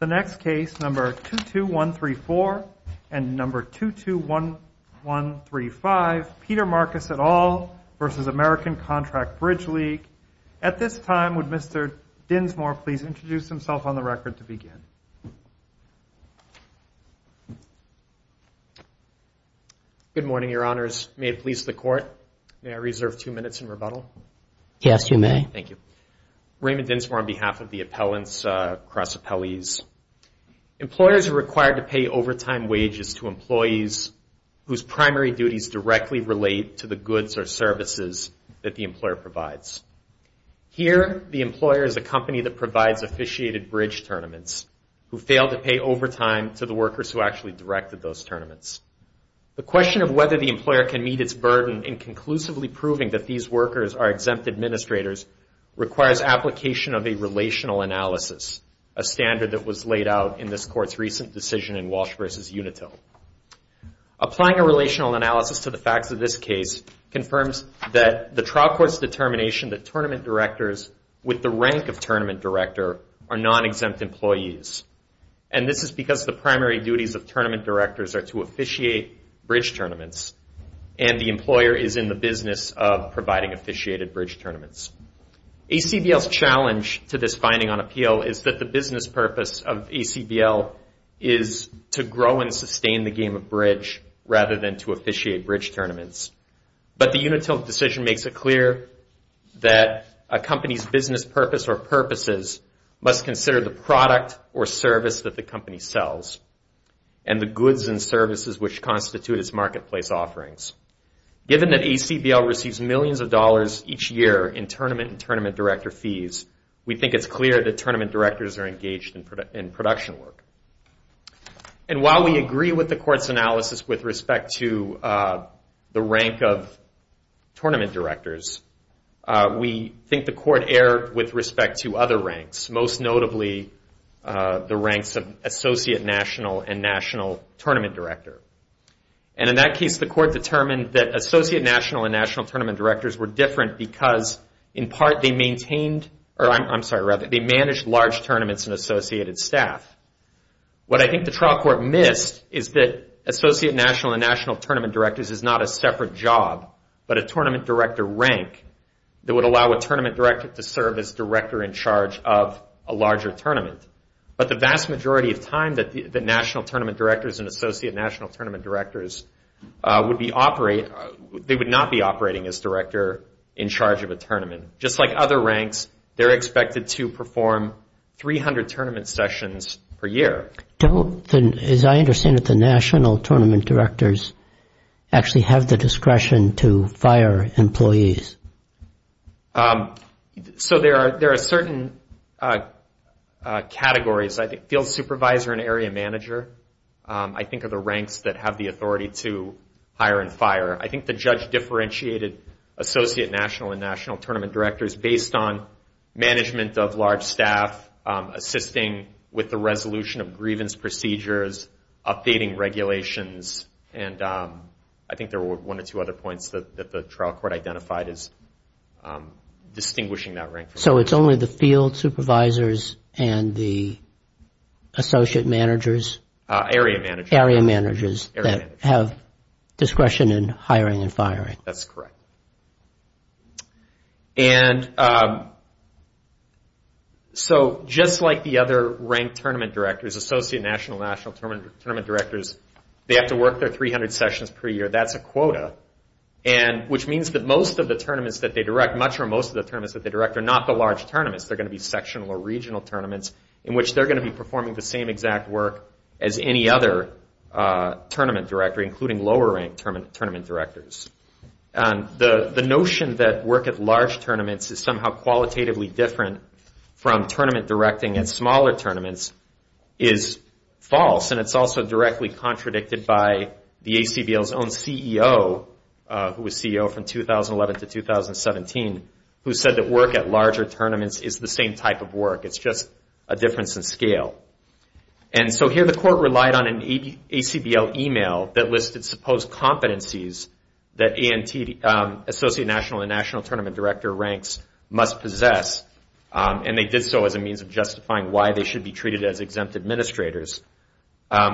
The next case, number 22134 and number 22135, Peter Marcus et al. versus American Contract Bridge League. At this time, would Mr. Dinsmore please introduce himself on the record to begin? Good morning, your honors. May it please the court, may I reserve two minutes in rebuttal? Yes, you may. Thank you. Raymond Dinsmore on behalf of the appellants cross appellees. Employers are required to pay overtime wages to employees whose primary duties directly relate to the goods or services that the employer provides. Here, the employer is a company that provides officiated bridge tournaments who fail to pay overtime to the workers who actually directed those tournaments. The question of whether the employer can meet its burden in conclusively proving that these workers are exempt administrators requires application of a relational analysis, a standard that was laid out in this court's recent decision in Walsh v. Unitil. Applying a relational analysis to the facts of this case confirms that the trial court's determination that tournament directors with the rank of tournament director are non-exempt employees, and this is because the primary duties of tournament directors are to officiate bridge tournaments, and the employer is in the business of providing officiated bridge tournaments. ACBL's challenge to this finding on appeal is that the business purpose of ACBL is to grow and sustain the game of bridge rather than to officiate bridge tournaments. But the Unitil decision makes it clear that a company's business purpose or purposes must consider the product or service that the company sells and the goods and services which constitute its marketplace offerings. Given that ACBL receives millions of dollars each year in tournament and tournament director fees, we think it's clear that tournament directors are engaged in production work. And while we agree with the court's analysis with respect to the rank of tournament directors, we think the court erred with respect to other ranks, most notably the ranks of associate national and national tournament director. And in that case, the court determined that associate national and national tournament directors were different because, in part, they managed large tournaments and associated staff. What I think the trial court missed is that associate national and national tournament directors is not a separate job, but a tournament director rank that would allow a tournament director to serve as director in charge of a larger tournament. But the vast majority of time, the national tournament directors and associate national tournament directors, they would not be operating as director in charge of a tournament. Just like other ranks, they're expected to perform 300 tournament sessions per year. As I understand it, the national tournament directors actually have the discretion to fire employees. So there are certain categories. Field supervisor and area manager, I think, are the ranks that have the authority to hire and fire. I think the judge differentiated associate national and national tournament directors based on management of large staff, assisting with the resolution of grievance procedures, updating regulations, and I think there were one or two other points that the trial court identified as distinguishing that rank. So it's only the field supervisors and the associate managers? Area managers. Area managers that have discretion in hiring and firing. That's correct. And so just like the other rank tournament directors, associate national and national tournament directors, they have to work their 300 sessions per year. That's a quota, which means that most of the tournaments that they direct, much or most of the tournaments that they direct are not the large tournaments. They're going to be sectional or regional tournaments in which they're going to be performing the same exact work as any other tournament director, including lower rank tournament directors. The notion that work at large tournaments is somehow qualitatively different from tournament directing at smaller tournaments is false, and it's also directly contradicted by the ACBL's own CEO, who was CEO from 2011 to 2017, who said that work at larger tournaments is the same type of work. It's just a difference in scale. And so here the court relied on an ACBL email that listed supposed competencies that ANT associate national and national tournament director ranks must possess, and they did so as a means of justifying why they should be treated as exempt administrators.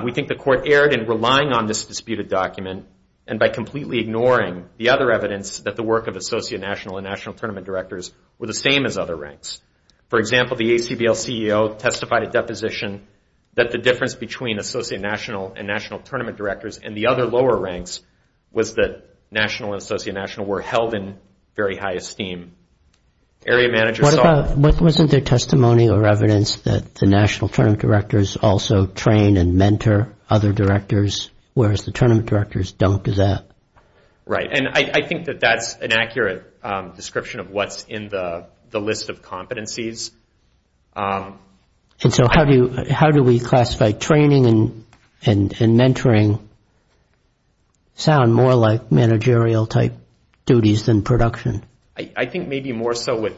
We think the court erred in relying on this disputed document and by completely ignoring the other evidence that the work of associate national and national tournament directors were the same as other ranks. For example, the ACBL CEO testified at deposition that the difference between associate national and national tournament directors and the other lower ranks was that national and associate national were held in very high esteem. Area managers... What about, wasn't there testimony or evidence that the national tournament directors also train and mentor other directors, whereas the tournament directors don't do that? Right, and I think that that's an accurate description of what's in the list of competencies. And so how do we classify training and mentoring sound more like managerial-type duties than production? I think maybe more so with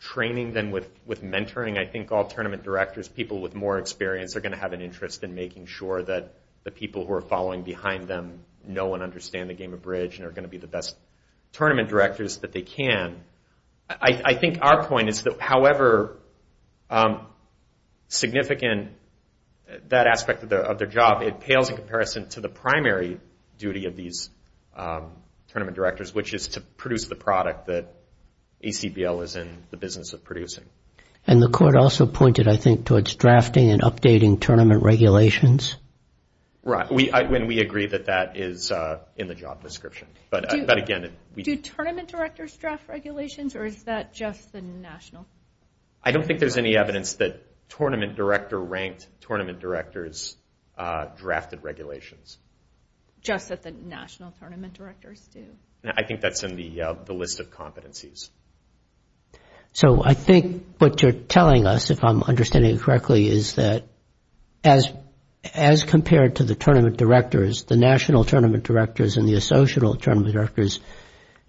training than with mentoring. I think all tournament directors, people with more experience, are going to have an interest in making sure that the people who are following behind them know and understand the game of bridge and are going to be the best tournament directors that they can. I think our point is that however significant that aspect of their job, it pales in comparison to the primary duty of these tournament directors, which is to produce the product that ACBL is in the business of producing. And the court also pointed, I think, towards drafting and updating tournament regulations. Right, and we agree that that is in the job description. Do tournament directors draft regulations, or is that just the national? I don't think there's any evidence that tournament director-ranked tournament directors drafted regulations. Just that the national tournament directors do? I think that's in the list of competencies. So I think what you're telling us, if I'm understanding it correctly, is that as compared to the tournament directors, the national tournament directors and the associational tournament directors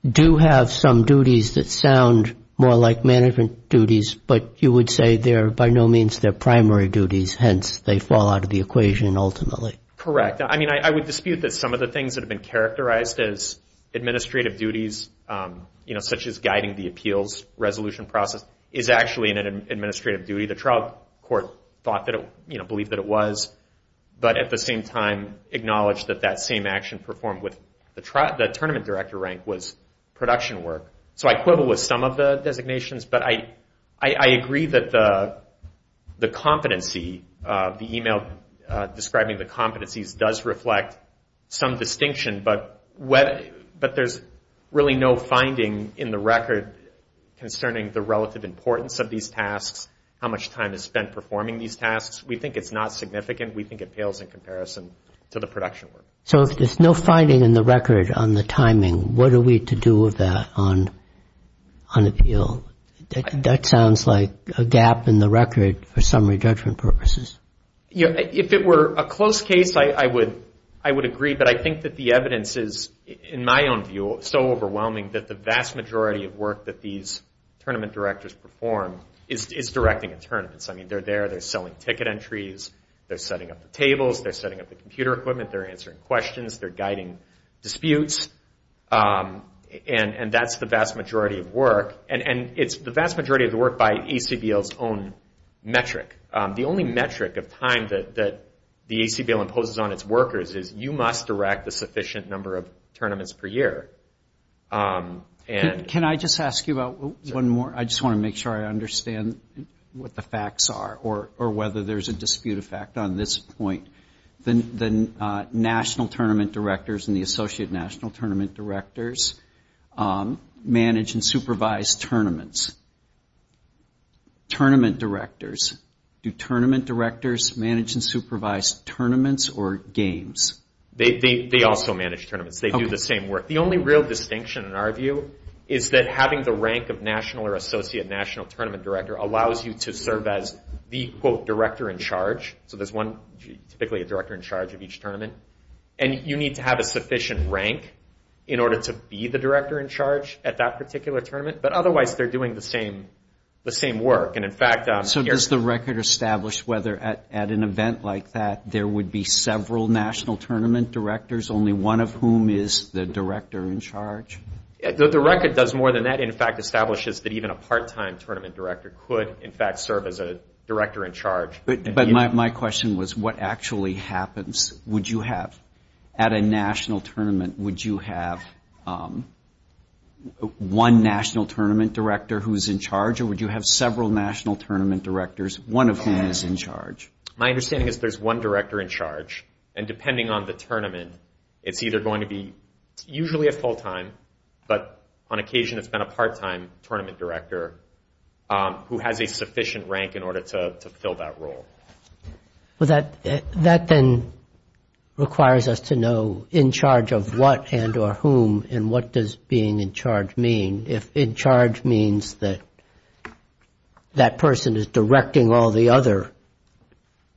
do have some duties that sound more like management duties, but you would say they're by no means their primary duties, hence they fall out of the equation ultimately. Correct. I mean, I would dispute that some of the things that have been characterized as administrative duties, such as guiding the appeals resolution process, is actually an administrative duty. The trial court believed that it was, but at the same time acknowledged that that same action performed with the tournament director rank was production work. So I quibble with some of the designations, but I agree that the competency, the email describing the competencies, does reflect some distinction, but there's really no finding in the record concerning the relative importance of these tasks, how much time is spent performing these tasks. We think it's not significant. We think it pales in comparison to the production work. So if there's no finding in the record on the timing, what are we to do with that on appeal? That sounds like a gap in the record for summary judgment purposes. If it were a close case, I would agree, but I think that the evidence is, in my own view, so overwhelming that the vast majority of work that these tournament directors perform is directing a tournament. I mean, they're there. They're selling ticket entries. They're setting up the tables. They're setting up the computer equipment. They're answering questions. They're guiding disputes, and that's the vast majority of work, and it's the vast majority of the work by ACBL's own metric. The only metric of time that the ACBL imposes on its workers is you must direct a sufficient number of tournaments per year. Can I just ask you about one more? I just want to make sure I understand what the facts are or whether there's a dispute effect on this point. The national tournament directors and the associate national tournament directors manage and supervise tournaments. Tournament directors. Do tournament directors manage and supervise tournaments or games? They also manage tournaments. They do the same work. The only real distinction, in our view, is that having the rank of national or associate national tournament director allows you to serve as the, quote, director in charge. So there's typically a director in charge of each tournament, and you need to have a sufficient rank in order to be the director in charge at that particular tournament, but otherwise they're doing the same work. So does the record establish whether at an event like that only one of whom is the director in charge? The record does more than that. In fact, it establishes that even a part-time tournament director could, in fact, serve as a director in charge. But my question was, what actually happens? Would you have, at a national tournament, would you have one national tournament director who's in charge, or would you have several national tournament directors, one of whom is in charge? My understanding is there's one director in charge, and depending on the tournament, it's either going to be usually a full-time, but on occasion it's been a part-time tournament director who has a sufficient rank in order to fill that role. Well, that then requires us to know in charge of what and or whom, and what does being in charge mean? If in charge means that that person is directing all the other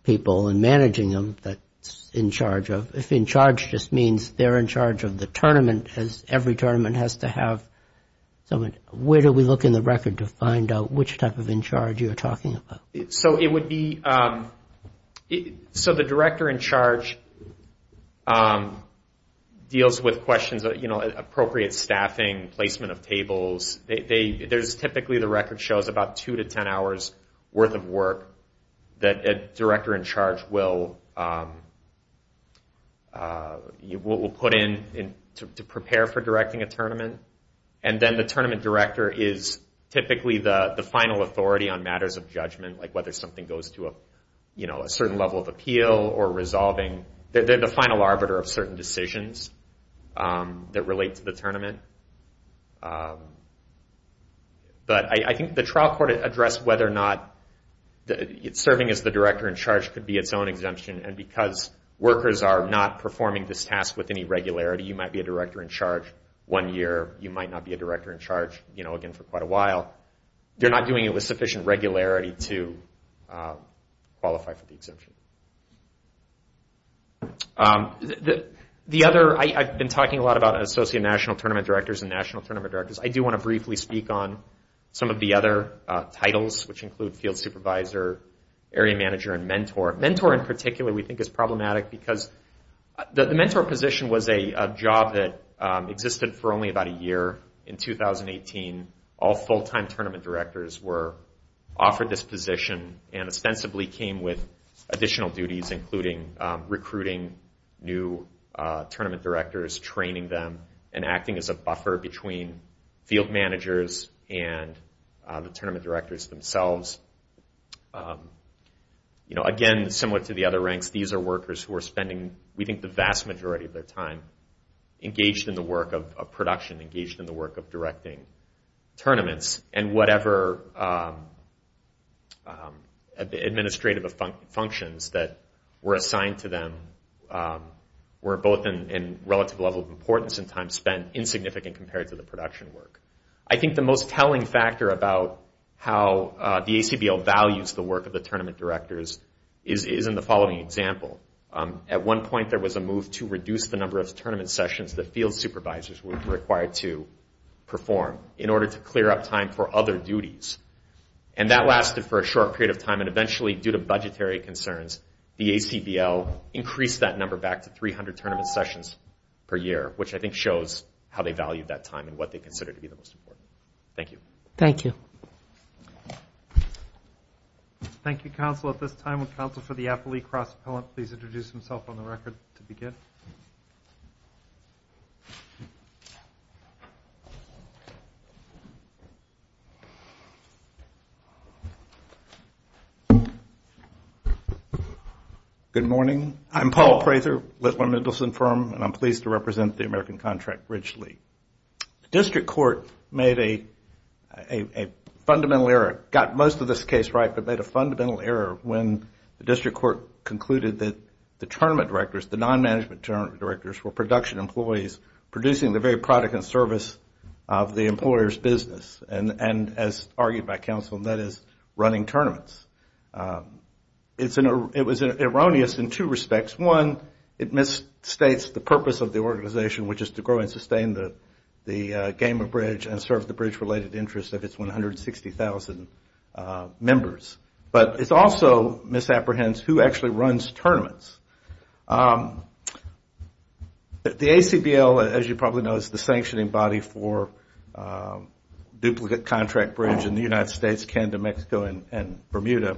people and managing them, that's in charge of. If in charge just means they're in charge of the tournament, as every tournament has to have someone, where do we look in the record to find out which type of in charge you're talking about? The director in charge deals with questions, appropriate staffing, placement of tables. There's typically, the record shows, about two to ten hours worth of work that a director in charge will put in to prepare for directing a tournament. And then the tournament director is typically the final authority on matters of judgment, like whether something goes to a certain level of appeal or resolving. They're the final arbiter of certain decisions that relate to the tournament. But I think the trial court addressed whether or not serving as the director in charge could be its own exemption, and because workers are not performing this task with any regularity, you might be a director in charge one year, you might not be a director in charge again for quite a while. They're not doing it with sufficient regularity to qualify for the exemption. I've been talking a lot about associate national tournament directors and national tournament directors. I do want to briefly speak on some of the other titles, which include field supervisor, area manager, and mentor. Mentor, in particular, we think is problematic because the mentor position was a job that existed for only about a year. In 2018, all full-time tournament directors were offered this position, and ostensibly came with additional duties, including recruiting new tournament directors, training them, and acting as a buffer between field managers and the tournament directors themselves. Again, similar to the other ranks, these are workers who are spending, we think, the vast majority of their time engaged in the work of production, engaged in the work of directing tournaments, and whatever administrative functions that were assigned to them were both in relative level of importance and time spent and insignificant compared to the production work. I think the most telling factor about how the ACBL values the work of the tournament directors is in the following example. At one point, there was a move to reduce the number of tournament sessions that field supervisors were required to perform in order to clear up time for other duties. That lasted for a short period of time, and eventually, due to budgetary concerns, the ACBL increased that number back to 300 tournament sessions per year, which I think shows how they valued that time and what they consider to be the most important. Thank you. Thank you. Thank you, Counsel. At this time, would Counsel for the Appley Cross Appellant please introduce himself on the record to begin? Good morning. I'm Paul Prather, Litwin-Middleson firm, and I'm pleased to represent the American Contract Ridge League. The District Court made a fundamental error, got most of this case right, but made a fundamental error when the District Court concluded that the tournament directors, the non-management tournament directors, were production employees producing the very product and service of the employer's business, and as argued by Counsel, that is, running tournaments. It was erroneous in two respects. One, it misstates the purpose of the organization, which is to grow and sustain the Gamer Bridge and serve the bridge-related interests of its 160,000 members, but it also misapprehends who actually runs tournaments. The ACBL, as you probably know, is the sanctioning body for duplicate contract bridge in the United States, Canada, Mexico, and Bermuda,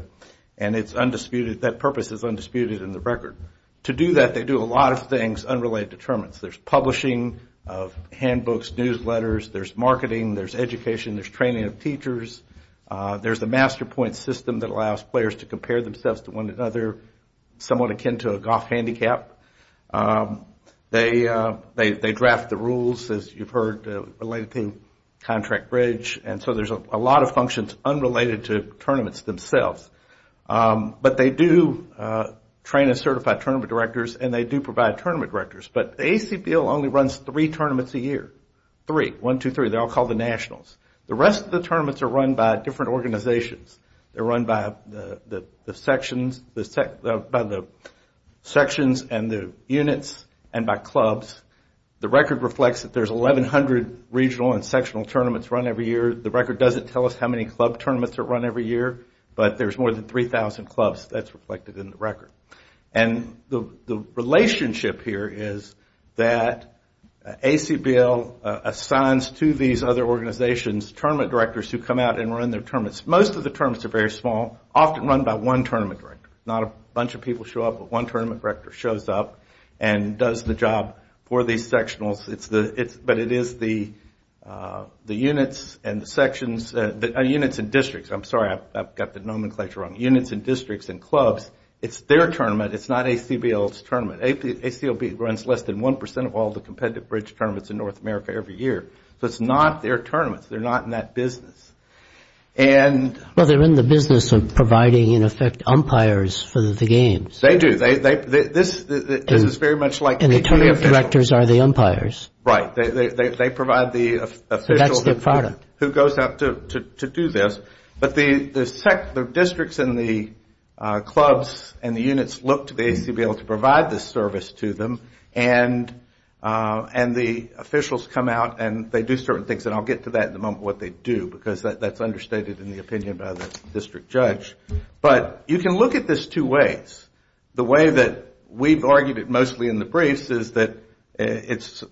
and it's undisputed, that purpose is undisputed in the record. To do that, they do a lot of things unrelated to tournaments. There's publishing of handbooks, newsletters, there's marketing, there's education, there's training of teachers, there's a master point system that allows players to compare themselves to one another, somewhat akin to a golf handicap. They draft the rules, as you've heard, related to contract bridge, and so there's a lot of functions unrelated to tournaments themselves. But they do train a certified tournament directors and they do provide tournament directors. But the ACBL only runs three tournaments a year. Three, one, two, three, they're all called the nationals. The rest of the tournaments are run by different organizations. They're run by the sections and the units and by clubs. The record reflects that there's 1,100 regional and sectional tournaments run every year. The record doesn't tell us how many club tournaments are run every year, but there's more than 3,000 clubs. That's reflected in the record. The relationship here is that ACBL assigns to these other organizations tournament directors who come out and run their tournaments. Most of the tournaments are very small, often run by one tournament director. Not a bunch of people show up, but one tournament director shows up and does the job for these sectionals. But it is the units and districts. I'm sorry, I've got the nomenclature wrong. Units and districts and clubs, it's their tournament, it's not ACBL's tournament. ACBL runs less than 1% of all the competitive bridge tournaments in North America every year, so it's not their tournament. They're not in that business. Well, they're in the business of providing, in effect, umpires for the games. They do. And the tournament directors are the umpires. Right. They provide the officials who go out to do this. But the districts and the clubs and the units look to ACBL to provide this service to them and the officials come out and they do certain things. And I'll get to that in a moment, what they do, because that's understated in the opinion by the district judge. But you can look at this two ways. The way that we've argued it mostly in the briefs is that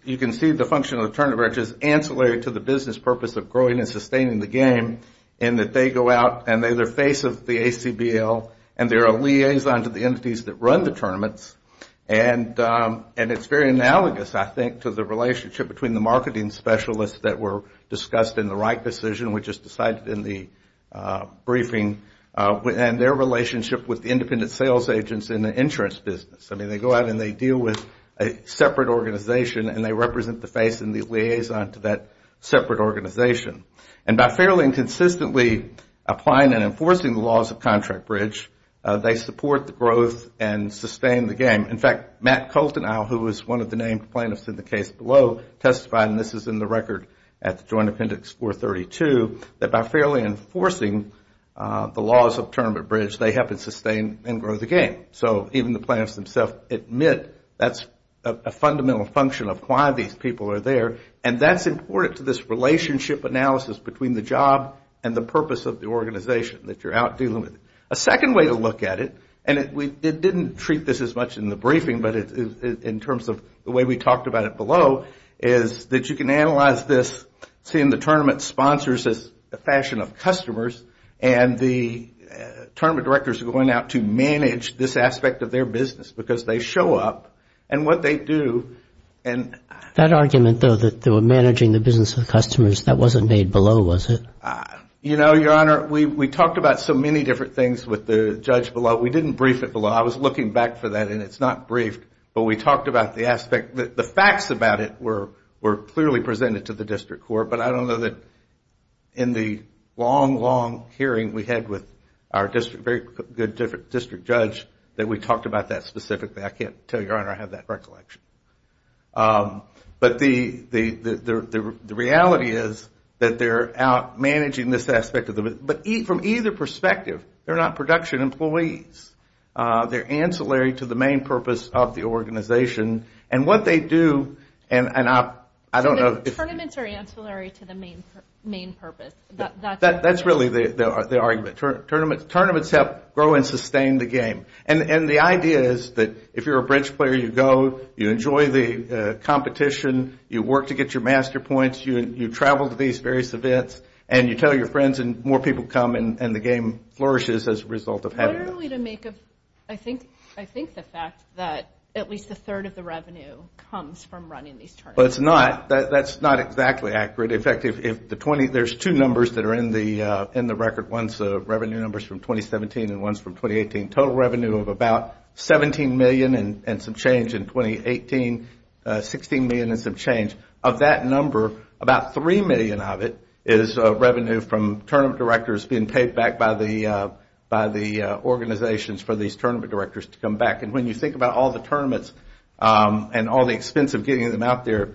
you can see the function of the tournament which is ancillary to the business purpose of growing and sustaining the game in that they go out and they're the face of the ACBL and they're a liaison to the entities that run the tournaments. And it's very analogous, I think, to the relationship between the marketing specialists that were discussed in the right decision, which is decided in the briefing and their relationship with the independent sales agents in the insurance business. I mean, they go out and they deal with a separate organization and they represent the face and the liaison to that separate organization. And by fairly and consistently applying and enforcing the laws of contract bridge, they support the growth and sustain the game. In fact, Matt Colton, who was one of the named plaintiffs in the case below, testified, and this is in the record at the Joint Appendix 432, that by fairly enforcing the laws of tournament bridge, they help it sustain and grow the game. So even the plaintiffs themselves admit that's a fundamental function of why these people are there and that's important to this relationship analysis between the job and the purpose of the organization that you're out dealing with. A second way to look at it, and it didn't treat this as much in the briefing, but in terms of the way we talked about it below, is that you can analyze this, seeing the tournament sponsors as a fashion of customers and the tournament directors are going out to manage this aspect of their business because they show up and what they do and... That argument, though, that they were managing the business of the customers, that wasn't made below, was it? You know, Your Honor, we talked about so many different things with the judge below. But we didn't brief it below. I was looking back for that and it's not briefed, but we talked about the aspect. The facts about it were clearly presented to the district court, but I don't know that in the long, long hearing we had with our district judge that we talked about that specifically. I can't tell you, Your Honor, I have that recollection. But the reality is that they're out managing this aspect of the business. But from either perspective, they're not production employees. They're ancillary to the main purpose of the organization and what they do and I don't know... Tournaments are ancillary to the main purpose. That's really the argument. Tournaments help grow and sustain the game. And the idea is that if you're a bridge player, you go, you enjoy the competition, you work to get your master points, you travel to these various events and you tell your friends and more people come and the game flourishes as a result of having them. What are we to make of... I think the fact that at least a third of the revenue comes from running these tournaments. That's not exactly accurate. In fact, there's two numbers that are in the record. One's revenue numbers from 2017 and one's from 2018. Total revenue of about $17 million and some change in 2018, $16 million and some change. Of that number, about $3 million of it is revenue from tournament directors being paid back by the organizations for these tournament directors to come back. And when you think about all the tournaments and all the expense of getting them out there,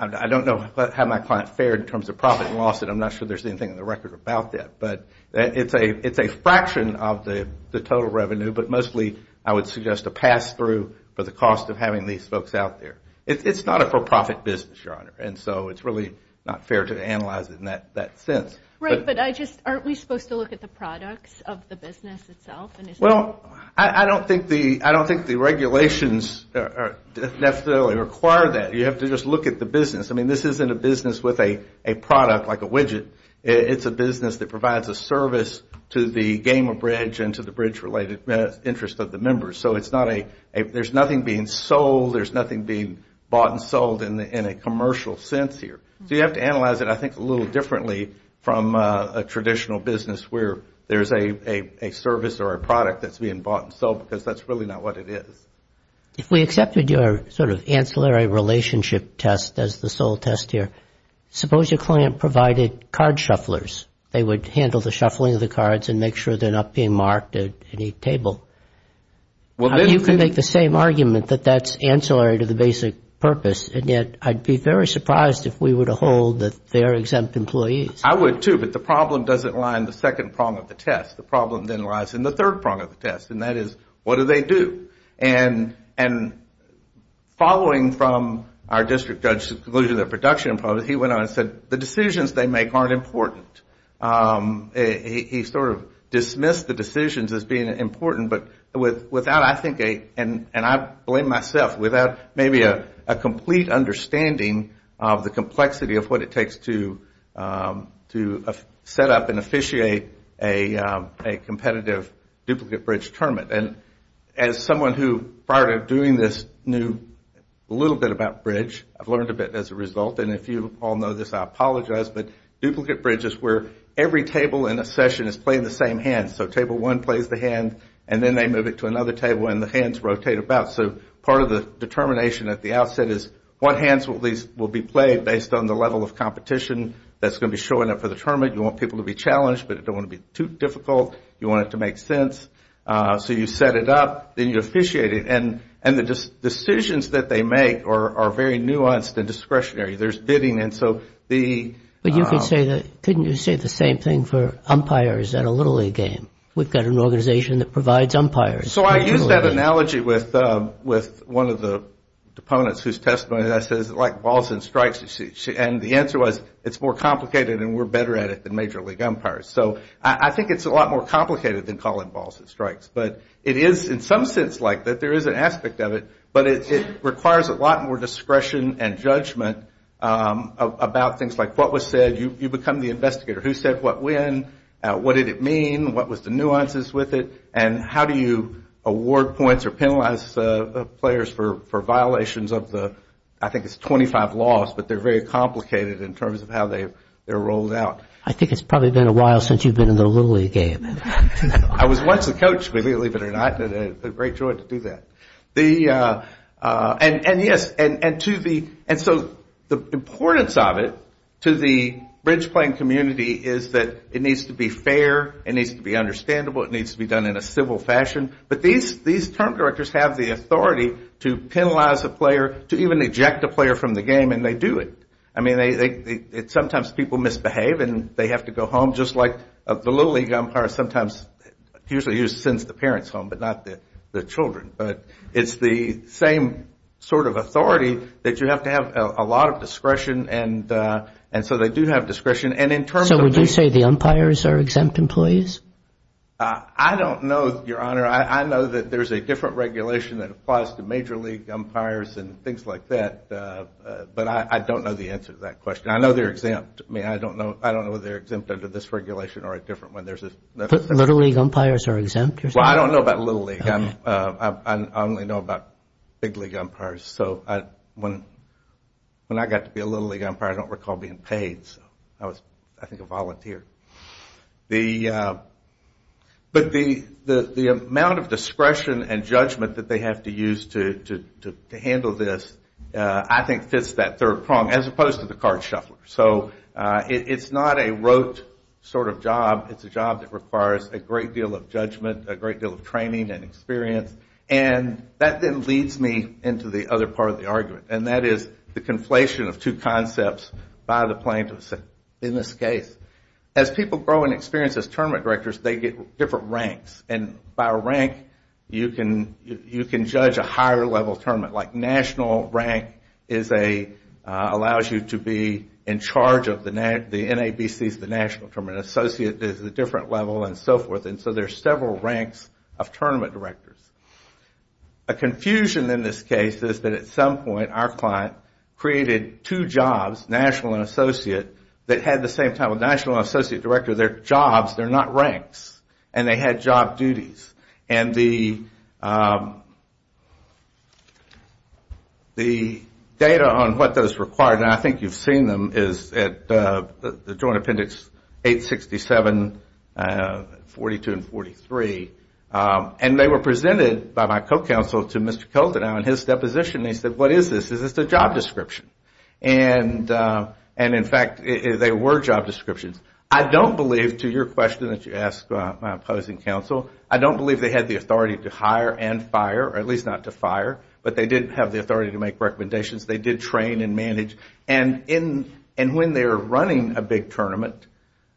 I don't know how my client fared in terms of profit and loss and I'm not sure there's anything in the record about that. But it's a fraction of the total revenue but mostly I would suggest a pass-through for the cost of having these folks out there. It's not a for-profit business, Your Honor, and so it's really not fair to analyze it in that sense. Right, but aren't we supposed to look at the products of the business itself? Well, I don't think the regulations necessarily require that. You have to just look at the business. I mean, this isn't a business with a product like a widget. It's a business that provides a service to the game of bridge and to the bridge-related interest of the members. So it's not a, there's nothing being sold, there's nothing being bought and sold in a commercial sense here. So you have to analyze it, I think, a little differently from a traditional business where there's a service or a product that's being bought and sold because that's really not what it is. If we accepted your sort of ancillary relationship test as the sole test here, suppose your client provided card shufflers. They would handle the shuffling of the cards and make sure they're not being marked at any table. You can make the same argument that that's ancillary to the basic purpose, and yet I'd be very surprised if we were to hold that they're exempt employees. I would, too, but the problem doesn't lie in the second prong of the test. The problem then lies in the third prong of the test, and that is, what do they do? And following from our district judge's conclusion of the production, he went on and said, the decisions they make aren't important. He sort of dismissed the decisions as being important, but without, I think, and I blame myself, without maybe a complete understanding of the complexity of what it takes to set up and officiate a competitive duplicate bridge tournament. And as someone who, prior to doing this, knew a little bit about bridge, I've learned a bit as a result, and if you all know this, I apologize, but duplicate bridge is where every table in a session is playing the same hand. So table one plays the hand, and then they move it to another table and the hands rotate about. So part of the determination at the outset is, what hands will be played based on the level of competition that's going to be showing up for the tournament? You want people to be challenged, but you don't want it to be too difficult. You want it to make sense, so you set it up, then you officiate it, and the decisions that they make are very nuanced and discretionary. There's bidding, and so the... But couldn't you say the same thing for umpires at a Little League game? We've got an organization that provides umpires. So I used that analogy with one of the opponents whose testimony I said is like balls and strikes. And the answer was, it's more complicated and we're better at it than major league umpires. So I think it's a lot more complicated than calling balls and strikes, but it is in some sense like that. There is an aspect of it, but it requires a lot more discretion and judgment about things like what was said. You become the investigator. Who said what when? What did it mean? What was the nuances with it? And how do you award points or penalize players for violations of the... I think it's 25 laws, but they're very complicated in terms of how they're rolled out. I think it's probably been a while since you've been in the Little League game. I was once a coach, believe it or not, and I had a great joy to do that. And yes, and to the... And so the importance of it to the bridge playing community is that it needs to be fair, it needs to be understandable, it needs to be done in a civil fashion. But these term directors have the authority to penalize a player, to even eject a player from the game, and they do it. I mean, sometimes people misbehave and they have to go home, just like the Little League umpire sometimes usually sends the parents home, but not the children. But it's the same sort of authority that you have to have a lot of discretion, and so they do have discretion. So would you say the umpires are exempt employees? I don't know, Your Honor. I know that there's a different regulation that applies to Major League umpires and things like that, but I don't know the answer to that question. I know they're exempt. I mean, I don't know whether they're exempt under this regulation or a different one. The Little League umpires are exempt? Well, I don't know about Little League. I only know about Big League umpires. So when I got to be a Little League umpire, I don't recall being paid. I was, I think, a volunteer. But the amount of discretion and judgment that they have to use to handle this, I think fits that third prong, as opposed to the card shuffler. So it's not a rote sort of job. It's a job that requires a great deal of judgment, a great deal of training and experience. And that then leads me into the other part of the argument. And that is the conflation of two concepts by the plaintiffs. In this case, as people grow in experience as tournament directors, they get different ranks. And by rank, you can judge a higher level tournament. Like national rank is a, allows you to be in charge of the NABCs, the National Tournament. And associate is a different level and so forth. And so there's several ranks of tournament directors. A confusion in this case is that at some point, our client created two jobs, national and associate, that had the same title. National and associate director, they're jobs, they're not ranks. And they had job duties. And the data on what those required, and I think you've seen them, is at the Joint Appendix 867, 42 and 43. And they were presented by my co-counsel to Mr. Koldenau in his deposition. And he said, what is this? Is this a job description? And in fact, they were job descriptions. I don't believe, to your question that you asked my opposing counsel, I don't believe they had the authority to hire and fire, or at least not to fire, but they did have the authority to make recommendations. They did train and manage. And when they're running a big tournament,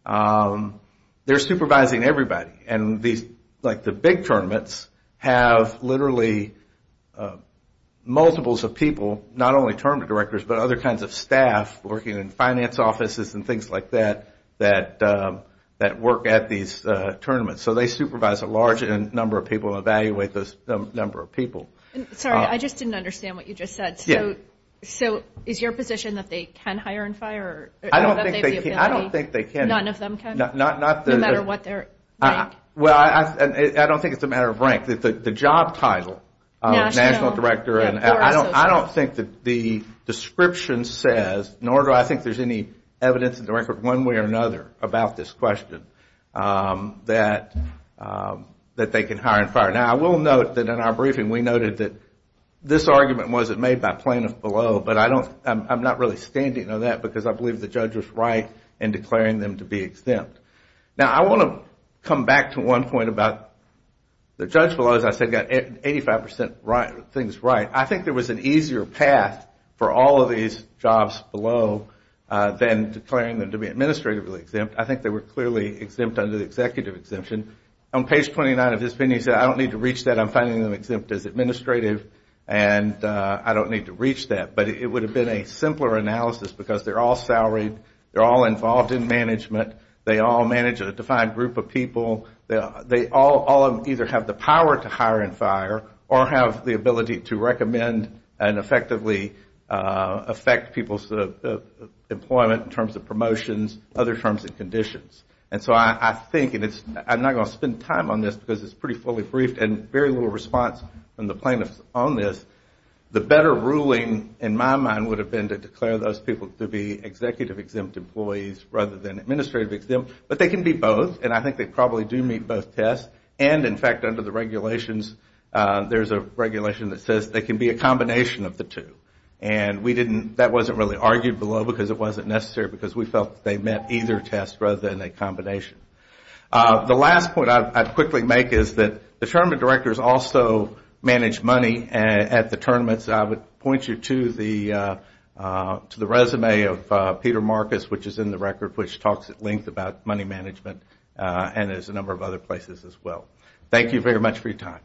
they're supervising everybody. And the big tournaments have literally multiples of people, not only tournament directors, but other kinds of staff working in finance offices and things like that, that work at these tournaments. So they supervise a large number of people and evaluate the number of people. Sorry, I just didn't understand what you just said. So is your position that they can hire and fire? I don't think they can. No matter what their rank? I don't think it's a matter of rank. The job title, national director, I don't think the description says, nor do I think there's any evidence in the record one way or another about this question that they can hire and fire. Now, I will note that in our briefing, we noted that this argument wasn't made by plaintiffs below, but I'm not really standing on that because I believe the judge was right in declaring them to be exempt. Now, I want to come back to one point about the judge below, as I said, got 85% of things right. I think there was an easier path for all of these jobs below than declaring them to be administratively exempt. I think they were clearly exempt under the executive exemption. On page 29 of his opinion, he said, I don't need to reach that, I'm finding them exempt as administrative and I don't need to reach that. But it would have been a simpler analysis because they're all salaried, they're all involved in management, they all manage a defined group of people, they all either have the power to hire and fire or have the ability to recommend and effectively affect people's employment in terms of promotions, other terms and conditions. And so I think, and I'm not going to spend time on this because it's pretty fully briefed and very little response from the plaintiffs on this, the better ruling in my mind would have been to declare those people to be executive exempt employees rather than administrative exempt, but they can be both and I think they probably do meet both tests and in fact under the regulations there's a regulation that says they can be a combination of the two and we didn't, that wasn't really argued below because it wasn't necessary because we felt they met either test rather than a combination. The last point I'd quickly make is that the tournament directors also manage money at the tournaments. I would point you to the resume of Peter Marcus which is in the record which talks at length about money management and there's a number of other places as well. Thank you very much for your time.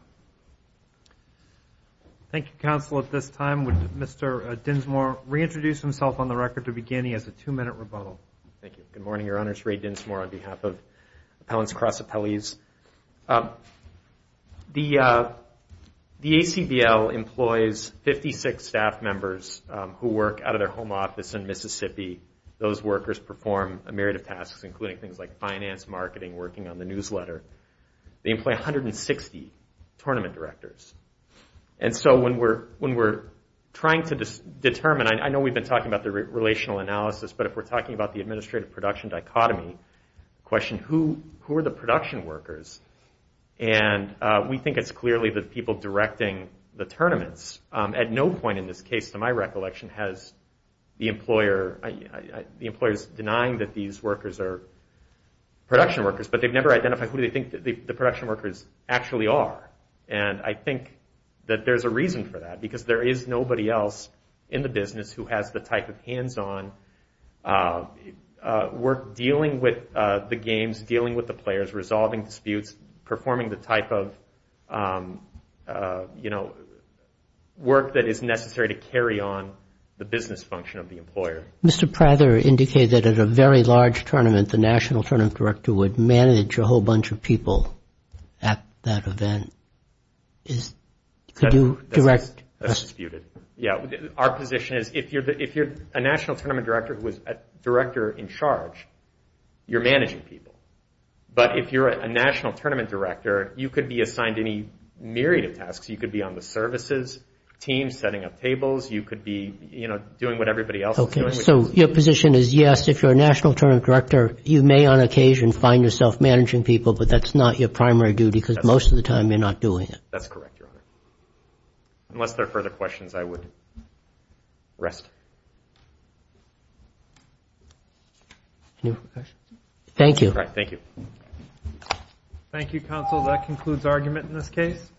Thank you, counsel. At this time would Mr. Dinsmore reintroduce himself on the record to begin. He has a two minute rebuttal. Thank you. Good morning, your honor. It's Ray Dinsmore on behalf of Appellants Cross Appellees. The ACBL employs 56 staff members who work out of their home office in Mississippi. Those workers perform a myriad of tasks including things like finance, marketing, working on the newsletter. They employ 160 tournament directors. When we're trying to determine, I know we've been talking about the relational analysis, but if we're talking about the administrative production dichotomy, the question who are the production workers? We think it's clearly the people directing the tournaments. At no point in this case to my recollection has the employer denying that these workers are production workers, but they've never identified who they think the production workers actually are. I think that there's a reason for that because there is nobody else in the business who has the type of hands-on work dealing with the games, dealing with the players, resolving disputes, performing the type of work that is Mr. Prather indicated that at a very large tournament, the national tournament director would manage a whole bunch of people at that event. That's disputed. Our position is if you're a national tournament director who is a director in charge, you're managing people, but if you're a national tournament director, you could be assigned any myriad of tasks. You could be on the services team setting up and doing what everybody else is doing. Your position is yes, if you're a national tournament director, you may on occasion find yourself managing people, but that's not your primary duty because most of the time you're not doing it. That's correct, Your Honor. Unless there are further questions, I would rest. Thank you. Thank you, Counsel. That concludes argument in this case.